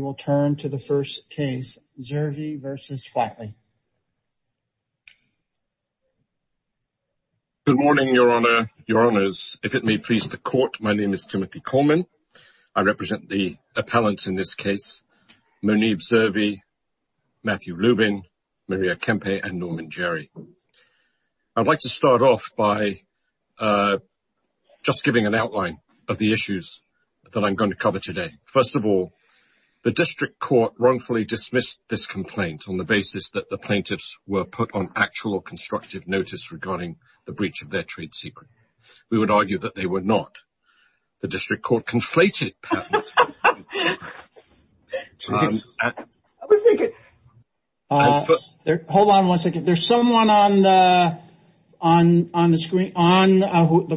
Good morning, Your Honour, Your Honours. If it may please the Court, my name is Timothy Coleman. I represent the appellants in this case, Muneeb Zirvi, Matthew Lubin, Maria Kempe and Norman Jerry. I'd like to start off by just giving an outline of the issues that the District Court wrongfully dismissed this complaint on the basis that the plaintiffs were put on actual or constructive notice regarding the breach of their trade secret. We would argue that they were not. The District Court conflated patents. Hold on one second. There's someone on the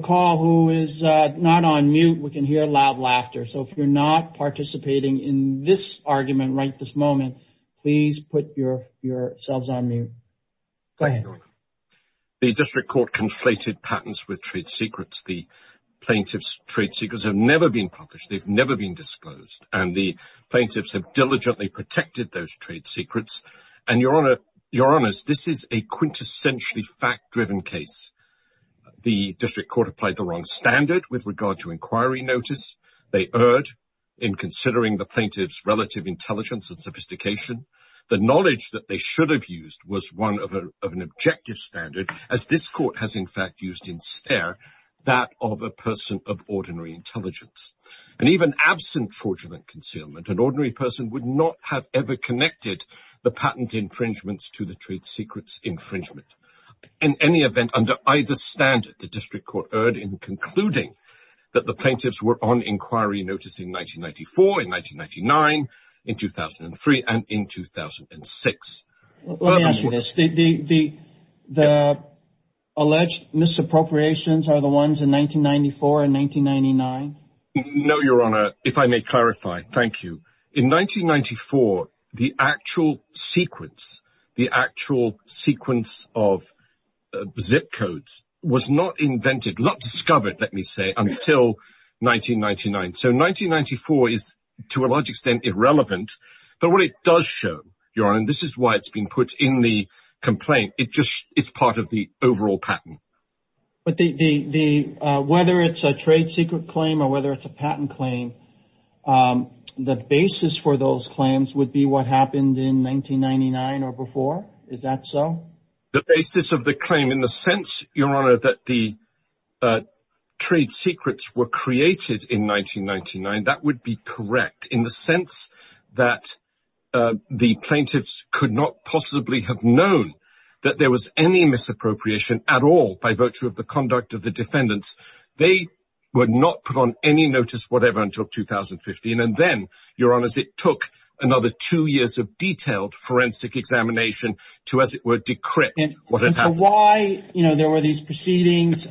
call who is not on mute. We can hear loud The District Court conflated patents with trade secrets. The plaintiffs' trade secrets have never been published. They've never been disclosed. And the plaintiffs have diligently protected those trade secrets. And Your Honours, this is a quintessentially fact-driven case. The District Court applied the wrong standard with regard to inquiry notice. They erred in considering the plaintiffs' relative intelligence and sophistication. The knowledge that they should have used was one of an objective standard, as this Court has, in fact, used instead that of a person of ordinary intelligence. And even absent fraudulent concealment, an ordinary person would not have ever connected the patent infringements to the trade secrets infringement. In any event, under either standard, the District Court erred in concluding that the plaintiffs were on inquiry notice in 1994, in 1999, in 2003, and in 2006. Let me ask you this. The alleged misappropriations are the ones in 1994 and 1999? No, Your Honour. If I may clarify, thank you. In 1994, the actual sequence, the actual sequence of zip codes was not invented, not discovered, let me say, until 1999. So 1994 is, to a large extent, irrelevant. But what it does show, Your Honour, and this is why it's been put in the complaint, it just is part of the overall patent. But whether it's a trade secret claim or whether it's a patent claim, the basis for those claims would be what happened in 1999 or before? Is that so? The basis of the claim, in the sense, Your Honour, that the trade secrets were created in 1999, that would be correct. In the sense that the plaintiffs could not possibly have known that there was any misappropriation at all by virtue of the conduct of the defendants, they would not put on any notice whatever until 2015. And then, Your Honour, it took another two years of detailed forensic examination to, as it were, decrypt what had happened. And so why, you know, there were these proceedings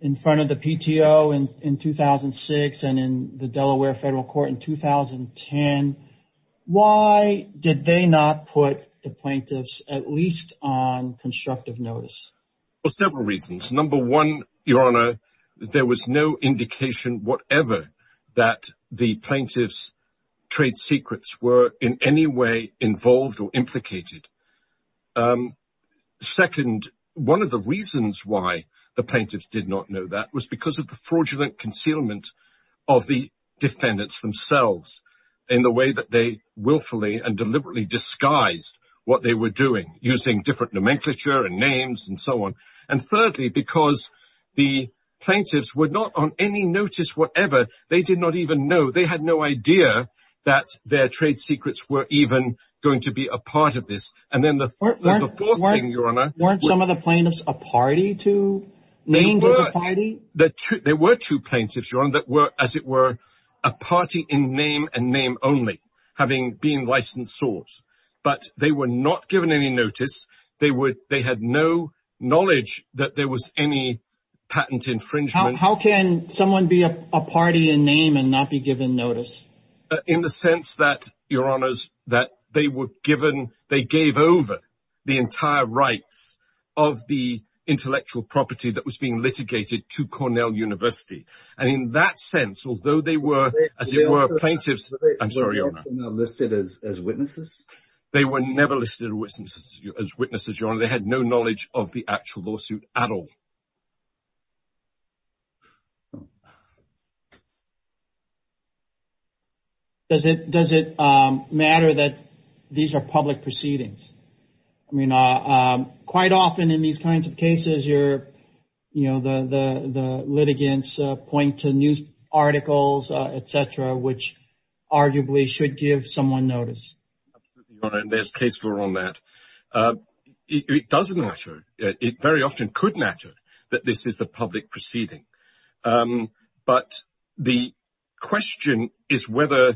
in front of the PTO in 2006 and in the Delaware Federal Court in 2010, why did they not put the plaintiffs at least on constructive notice? For several reasons. Number one, Your Honour, there was no indication whatever that the plaintiffs' trade secrets were in any way involved or implicated. Second, one of the reasons why the plaintiffs did not know that was because of the fraudulent concealment of the defendants themselves in the way that they willfully and deliberately disguised what they were doing, using different nomenclature and names and so on. And thirdly, because the plaintiffs were not on any notice whatever, they did not even know, they had no idea that their trade secrets were even going to be a part of this. And then the fourth thing, Your Honour... Weren't some of the plaintiffs a party to, named as a party? There were two plaintiffs, Your Honour, that were, as it were, a party in name and name only, having been licensed sorts, but they were not given any notice. They had no knowledge that there was any patent infringement. How can someone be a party in name and not be given notice? In the sense that, Your Honours, that they were given, they gave over the entire rights of the intellectual property that was being litigated to Cornell University. And in that sense, although they were, as it were, plaintiffs, I'm sorry, Your Honour... Were they listed as witnesses? They were never listed as witnesses, Your Honour. They had no knowledge of the actual lawsuit at all. Does it matter that these are public proceedings? I mean, quite often in these kinds of cases, you know, the litigants point to news articles, etc., which arguably should give someone notice. And there's case law on that. It does matter. It very often could matter that this is a public proceeding. But the question is whether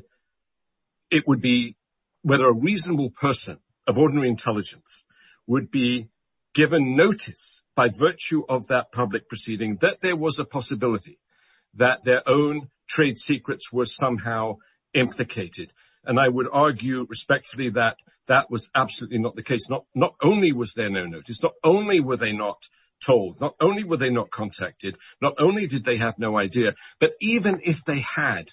it would be, whether a reasonable person of ordinary intelligence would be given notice by virtue of that public proceeding that there was a possibility that their own trade secrets were somehow implicated. And I would argue respectfully that that was absolutely not the case. Not only was there no notice, not only were they not told, not only were they not contacted, not only did they have no idea, but even if they had,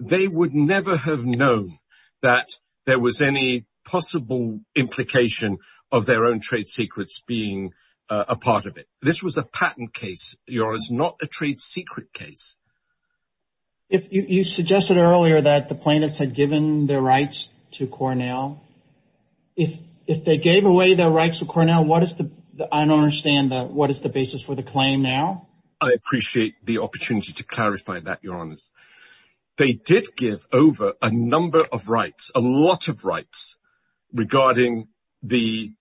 they would never have known that there was any possible implication of their own trade secrets being a part of it. This was a patent case, Your Honour, it's not a trade secret case. You suggested earlier that the plaintiffs had given their rights to Cornell. If they gave away their rights to Cornell, what is the, I don't understand, what is the basis for the claim now? I appreciate the opportunity to clarify that, Your Honour. They did give over a number of rights, a lot of rights regarding the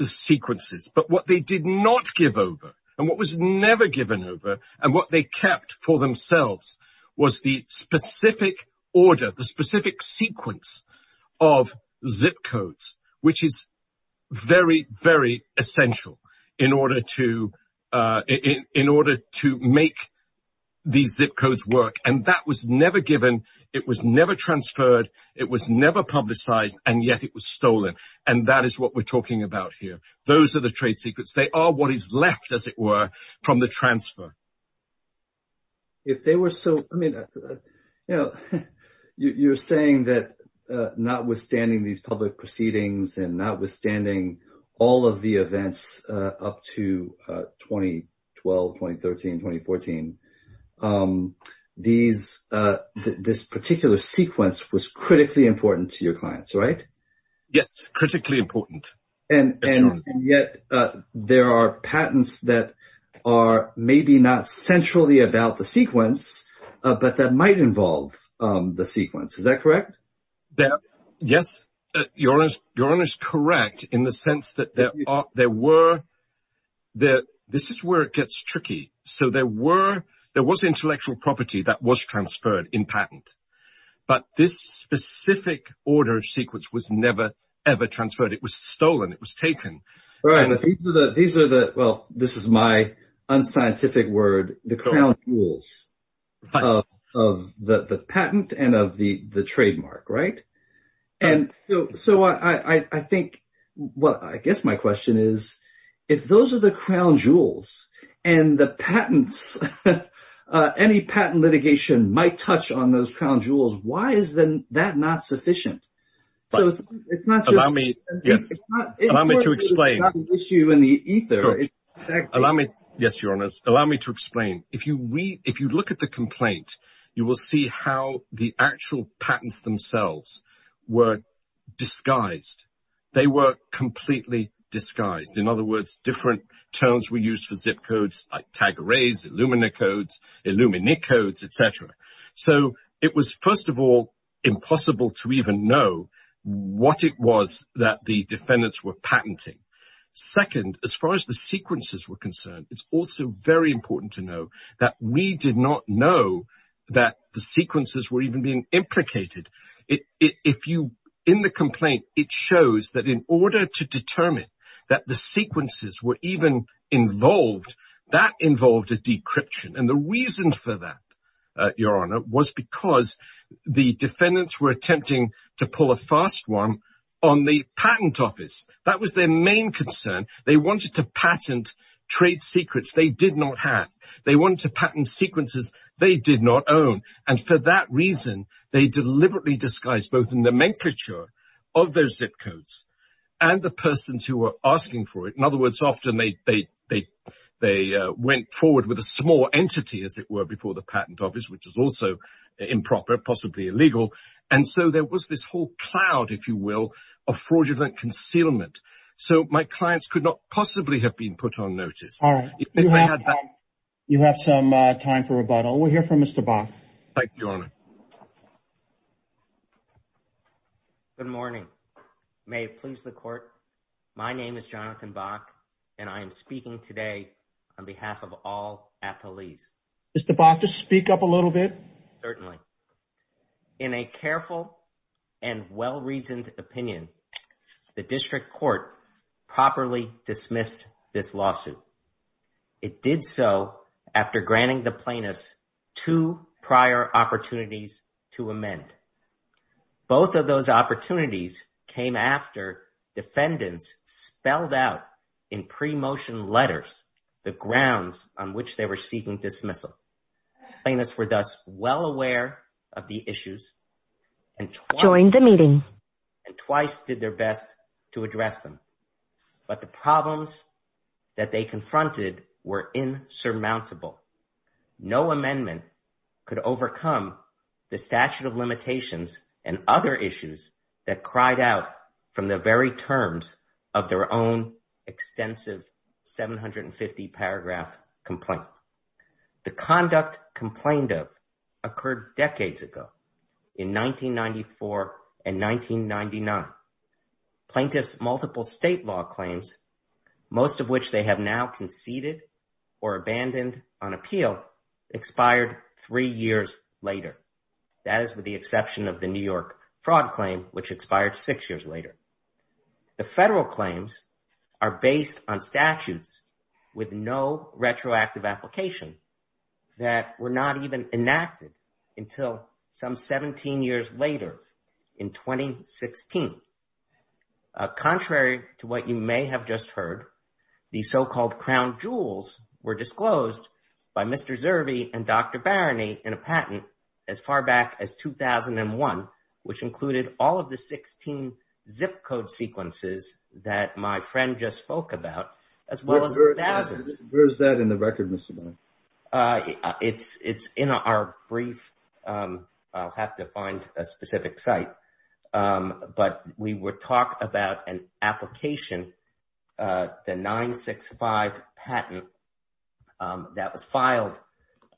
sequences, but what they did not give over and what was never given over and what they kept for themselves was the specific order, the specific sequence of zip codes, which is very, very essential in order to make these zip codes work. And that was never given, it was never transferred, it was never publicised, and yet it was stolen. And that is what we're talking about here. Those are the trade secrets. They are what is left, as it were, from the transfer. If they were so, I mean, you know, you're saying that notwithstanding these public proceedings and notwithstanding all of the events up to 2012, 2013, 2014, this particular sequence was critically important to your clients, right? Yes, critically important. And yet there are patents that are maybe not centrally about the sequence, but that might involve the sequence. Is that correct? Yes, Your Honour is correct in the sense that this is where it gets tricky. So there was intellectual property that was transferred in patent, but this specific order of sequence was never, ever transferred. It was stolen, it was taken. Right, but these are the, well, this is my unscientific word, the crown jewels of the patent and of the trademark, right? And so I think, well, I guess my question is, if those are the crown jewels and the patents, any patent litigation might touch on those crown jewels, why is then not sufficient? So it's not just... Allow me to explain. Yes, Your Honour, allow me to explain. If you read, if you look at the complaint, you will see how the actual patents themselves were disguised. They were completely disguised. In other words, different terms were used for zip to even know what it was that the defendants were patenting. Second, as far as the sequences were concerned, it's also very important to know that we did not know that the sequences were even being implicated. If you, in the complaint, it shows that in order to determine that the sequences were even involved, that involved a decryption. And the reason for that, Your Honour, was because the defendants were attempting to pull a fast one on the patent office. That was their main concern. They wanted to patent trade secrets they did not have. They wanted to patent sequences they did not own. And for that reason, they deliberately disguised both in the nomenclature of those zip codes and the persons who were asking for it. In other words, often they went forward with a patent office, which is also improper, possibly illegal. And so there was this whole cloud, if you will, of fraudulent concealment. So my clients could not possibly have been put on notice. All right. You have some time for rebuttal. We'll hear from Mr. Bach. Thank you, Your Honour. Good morning. May it please the court. My name is Jonathan Bach and I am speaking today on behalf of all at police. Mr. Bach, just speak up a little bit. Certainly. In a careful and well-reasoned opinion, the district court properly dismissed this lawsuit. It did so after granting the plaintiffs two prior opportunities to amend. Both of those the grounds on which they were seeking dismissal. Plaintiffs were thus well aware of the issues and joined the meeting and twice did their best to address them. But the problems that they confronted were insurmountable. No amendment could overcome the statute of limitations and other issues that cried out from the very terms of their own extensive 750 paragraph complaint. The conduct complained of occurred decades ago in 1994 and 1999. Plaintiffs' multiple state law claims, most of which they have now conceded or abandoned on appeal, expired three years later. That is with the exception of the New York fraud claim, which expired six years later. The federal claims are based on statutes with no retroactive application that were not even enacted until some 17 years later in 2016. Contrary to what you may have just heard, the so-called crown jewels were disclosed by Mr. Zerbe and Dr. Barony in a patent as far back as 2001, which included all of the 16 zip code sequences that my friend just spoke about, as well as thousands. Where is that in the record, Mr. Barony? It's in our brief. I'll have to find a specific site. We will talk about an application, the 965 patent that was filed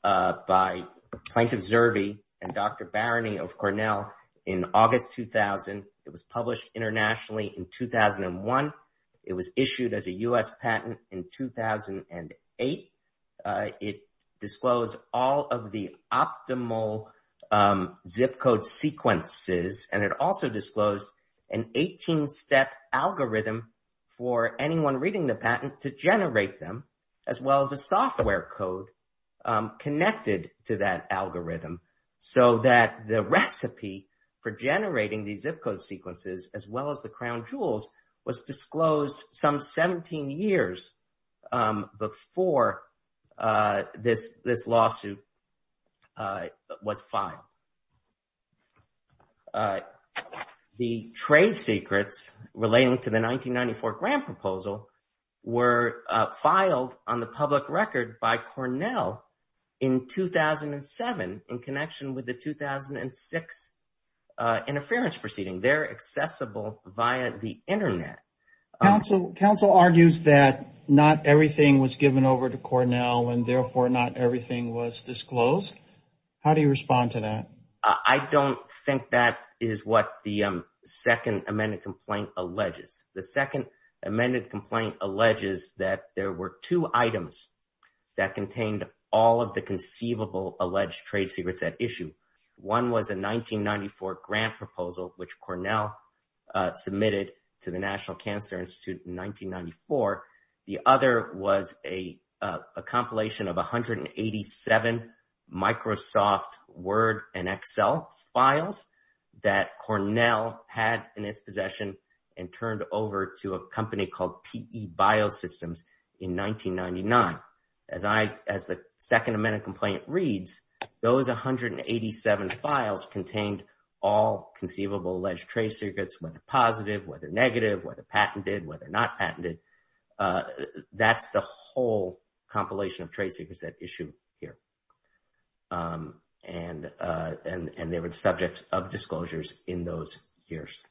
by Plaintiff Zerbe and Dr. Barony of Cornell in August 2000. It was published internationally in and it also disclosed an 18-step algorithm for anyone reading the patent to generate them, as well as a software code connected to that algorithm so that the recipe for generating these zip code sequences, as well as the crown jewels, was disclosed some 17 years before this lawsuit was filed. The trade secrets relating to the 1994 grant proposal were filed on the public record by Cornell in 2007 in connection with the 2006 interference proceeding. They're accessible via the internet. Counsel argues that not everything was given over to Cornell and therefore not everything was disclosed. How do you respond to that? I don't think that is what the second amended complaint alleges. The second amended complaint alleges that there were two items that contained all of the conceivable alleged trade secrets at issue. One was a 1994 grant proposal, which Cornell submitted to the National Cancer Institute in 1994. The other was a compilation of 187 Microsoft Word and Excel files that Cornell had in its possession and turned over to a company called PE Biosystems in 1999. As the second amended complaint reads, those 187 files contained all conceivable alleged trade secrets, whether positive, whether negative, whether patented, whether not patented. That's the whole compilation of trade secrets at issue here. They were the subjects of disclosures in those years.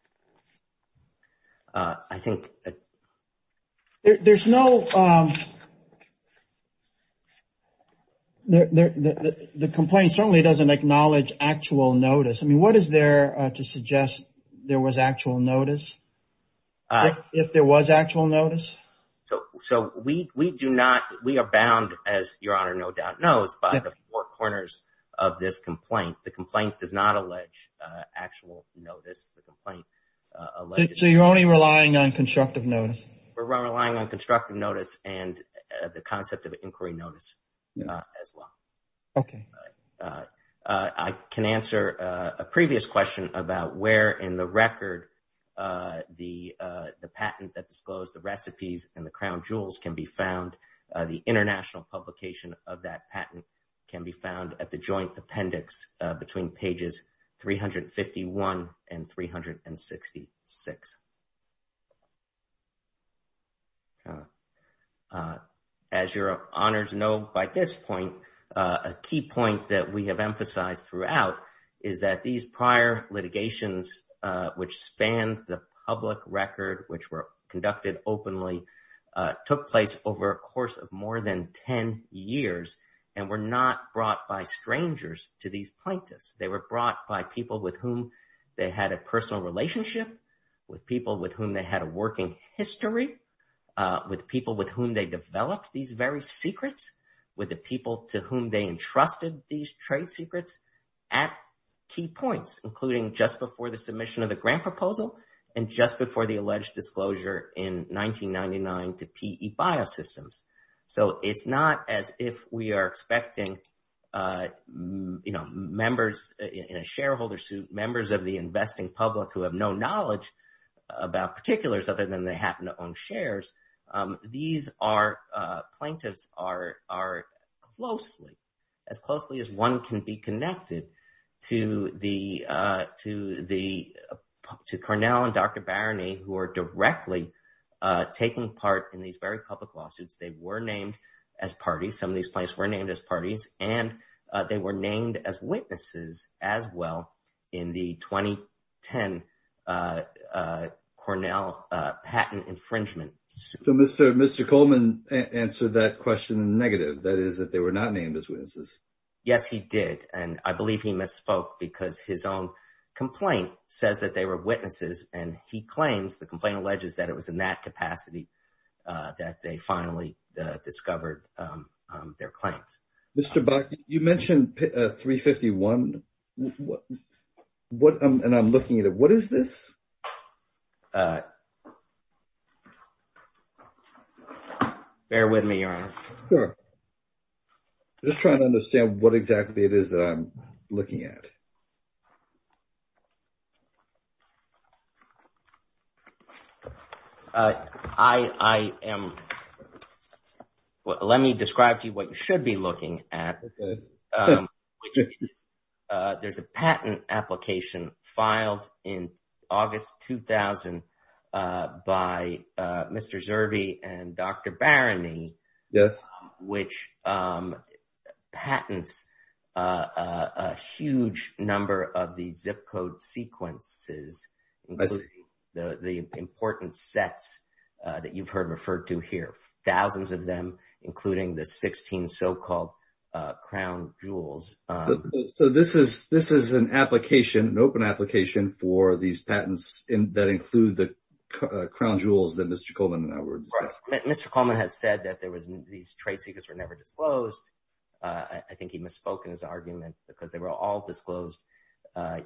The complaint certainly doesn't acknowledge actual notice. What is there to suggest there was actual notice, if there was actual notice? We are bound, as Your Honor no doubt knows, by the four corners of this complaint. The complaint does not allege actual notice. So you're only relying on constructive notice? We're relying on constructive notice and the concept of inquiry notice as well. Okay. I can answer a previous question about where in the record the patent that disclosed the recipes and the crown jewels can be found. The international publication of that patent can be found at the joint appendix between pages 351 and 366. As Your Honors know by this point, a key point that we have emphasized throughout is that these prior litigations which span the public record, which were conducted openly, took place over a course of more than 10 years and were not brought by strangers to these plaintiffs. They were brought by people with whom they had a personal relationship, with people with whom they had a working history, with people with whom they developed these very secrets, with the people to whom they entrusted these trade secrets at key points, including just before the submission of grant proposal and just before the alleged disclosure in 1999 to PE Biosystems. So it's not as if we are expecting, you know, members in a shareholder suit, members of the investing public who have no knowledge about particulars other than they happen to own shares. These are, plaintiffs are closely, as closely as one can be connected to Cornell and Dr. Baroney who are directly taking part in these very public lawsuits. They were named as parties, some of these plaintiffs were named as parties, and they were named as witnesses as well in the 2010 Cornell patent infringement. So Mr. Coleman answered that question in negative, that is that they were not named as witnesses. Yes he did, and I believe he misspoke because his own complaint says that they were witnesses and he claims, the complaint alleges, that it was in that capacity that they finally discovered their claims. Mr. Bakke, you mentioned 351. What, and I'm looking at it, what is this? Bear with me, Your Honor. Sure. Just trying to understand what exactly it is that I'm looking at. I am, let me describe to you what you should be looking at. There's a patent application filed in August 2000 by Mr. Zerbe and Dr. Baroney. Yes. Which patents a huge number of these zip code sequences, the important sets that you've heard this is an application, an open application for these patents that include the crown jewels that Mr. Coleman and I were discussing. Mr. Coleman has said that there was, these trade secrets were never disclosed. I think he misspoke in his argument because they were all disclosed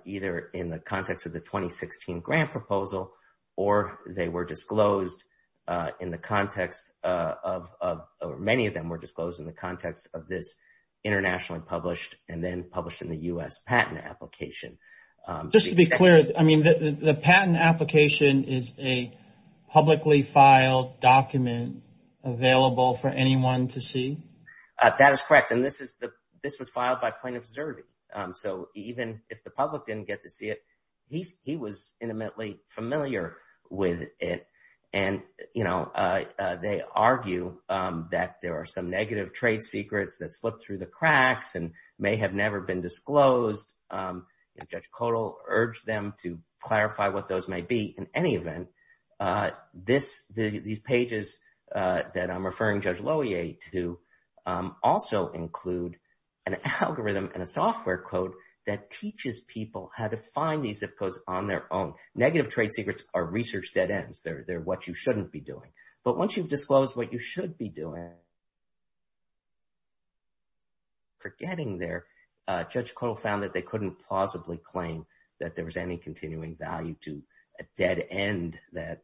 either in the context of the 2016 grant proposal or they were disclosed in the context of, many of them were disclosed in the context of this internationally published and then published in the U.S. patent application. Just to be clear, I mean, the patent application is a publicly filed document available for anyone to see? That is correct. And this was filed by plaintiff Zerbe. So even if the public didn't get to see it, he was intimately familiar with it. And they argue that there are some negative trade secrets that slipped through the cracks and may have never been disclosed. Judge Kodal urged them to clarify what those may be. In any event, this, these pages that I'm referring Judge Lohier to also include an algorithm and a software code that teaches people how to find these zip codes on their own. Negative trade secrets are research dead ends. They're what you shouldn't be doing. But once you've disclosed what you Judge Kodal found that they couldn't plausibly claim that there was any continuing value to a dead end that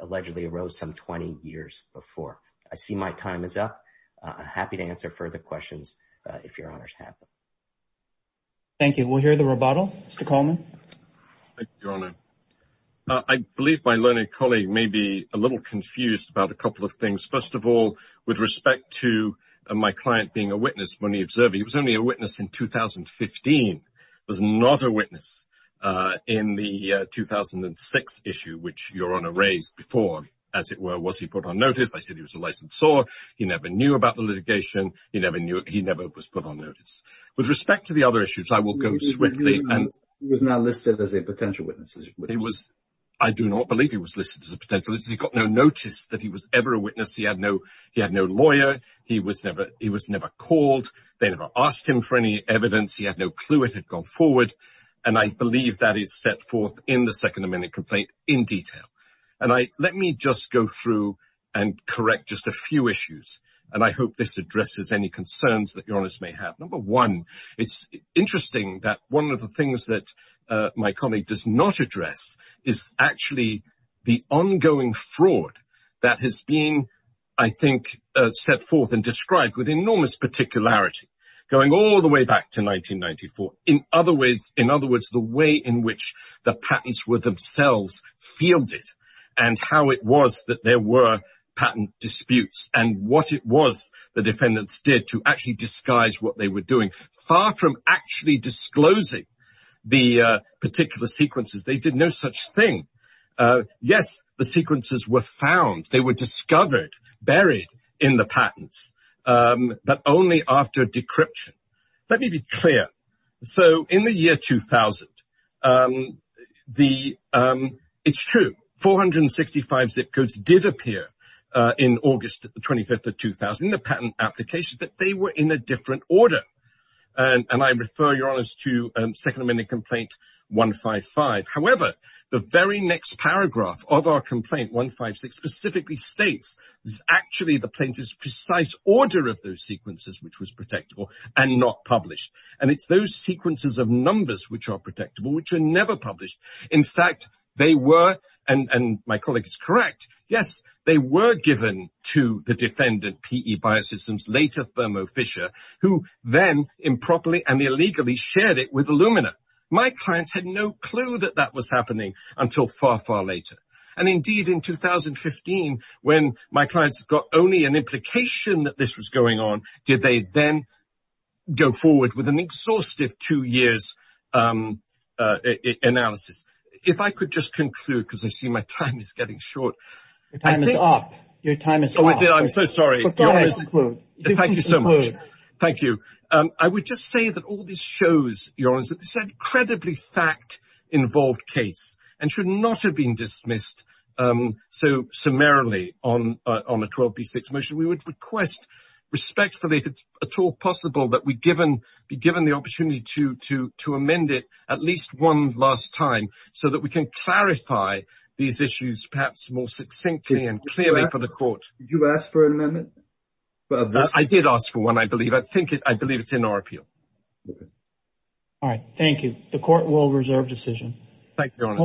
allegedly arose some 20 years before. I see my time is up. I'm happy to answer further questions if your honor's happy. Thank you. We'll hear the rebuttal. Mr. Coleman. Thank you, your honor. I believe my learned colleague may be a little confused about a couple of things. First of all, with respect to my client being a witness when he observed, he was only a witness in 2015. He was not a witness in the 2006 issue, which your honor raised before. As it were, was he put on notice? I said he was a licensor. He never knew about the litigation. He never knew. He never was put on notice. With respect to the other issues, I will go swiftly. He was not listed as a potential witness. He was. I do not believe he was listed as a potential. He got no notice that he was ever a witness. He had no lawyer. He was never called. They never asked him for any evidence. He had no clue it had gone forward, and I believe that is set forth in the second amendment complaint in detail. Let me just go through and correct just a few issues, and I hope this addresses any concerns that your honors may have. Number one, it's interesting that one of the things that my colleague does not address is actually the ongoing fraud that has been, I think, set forth and described with enormous particularity going all the way back to 1994. In other words, the way in which the patents were themselves fielded and how it was that there were patent disputes and what it was the defendants did to actually disguise what they were doing. Far from actually disclosing the particular sequences, they did no such thing. Yes, the sequences were found. They were discovered, buried in the patents, but only after decryption. Let me be clear. So in the year 2000, it's true, 465 zip codes did appear in August 25, 2000, the patent application, but they were in a different order, and I refer your honors to second amendment complaint 155. However, the very next paragraph of our complaint 156 specifically states, this is actually the plaintiff's precise order of those sequences, which was protectable and not published. And it's those sequences of numbers which are protectable, which are never published. In fact, they were, and my colleague is correct. Yes, they were given to the defendant, PE Biosystems, later Thermo Fisher, who then improperly and illegally shared it with Illumina. My clients had no clue that that was happening until far, far later. And indeed in 2015, when my clients got only an implication that this was going on, did they then go forward with an exhaustive two years analysis. If I could just conclude, because I see my time is getting short. Your time is up. I'm so sorry. Thank you so much. Thank you. I would just say that all this shows, your honors, that this is an incredibly fact-involved case and should not have been dismissed so summarily on a 12B6 motion. We would request respectfully, if it's at all possible, that we be given the opportunity to amend it at least one last time so that we can clarify these issues perhaps more succinctly and clearly for the court. Did you ask for an amendment? I did ask for one, I believe. I think it's in our appeal. All right. Thank you. The court will reserve decision.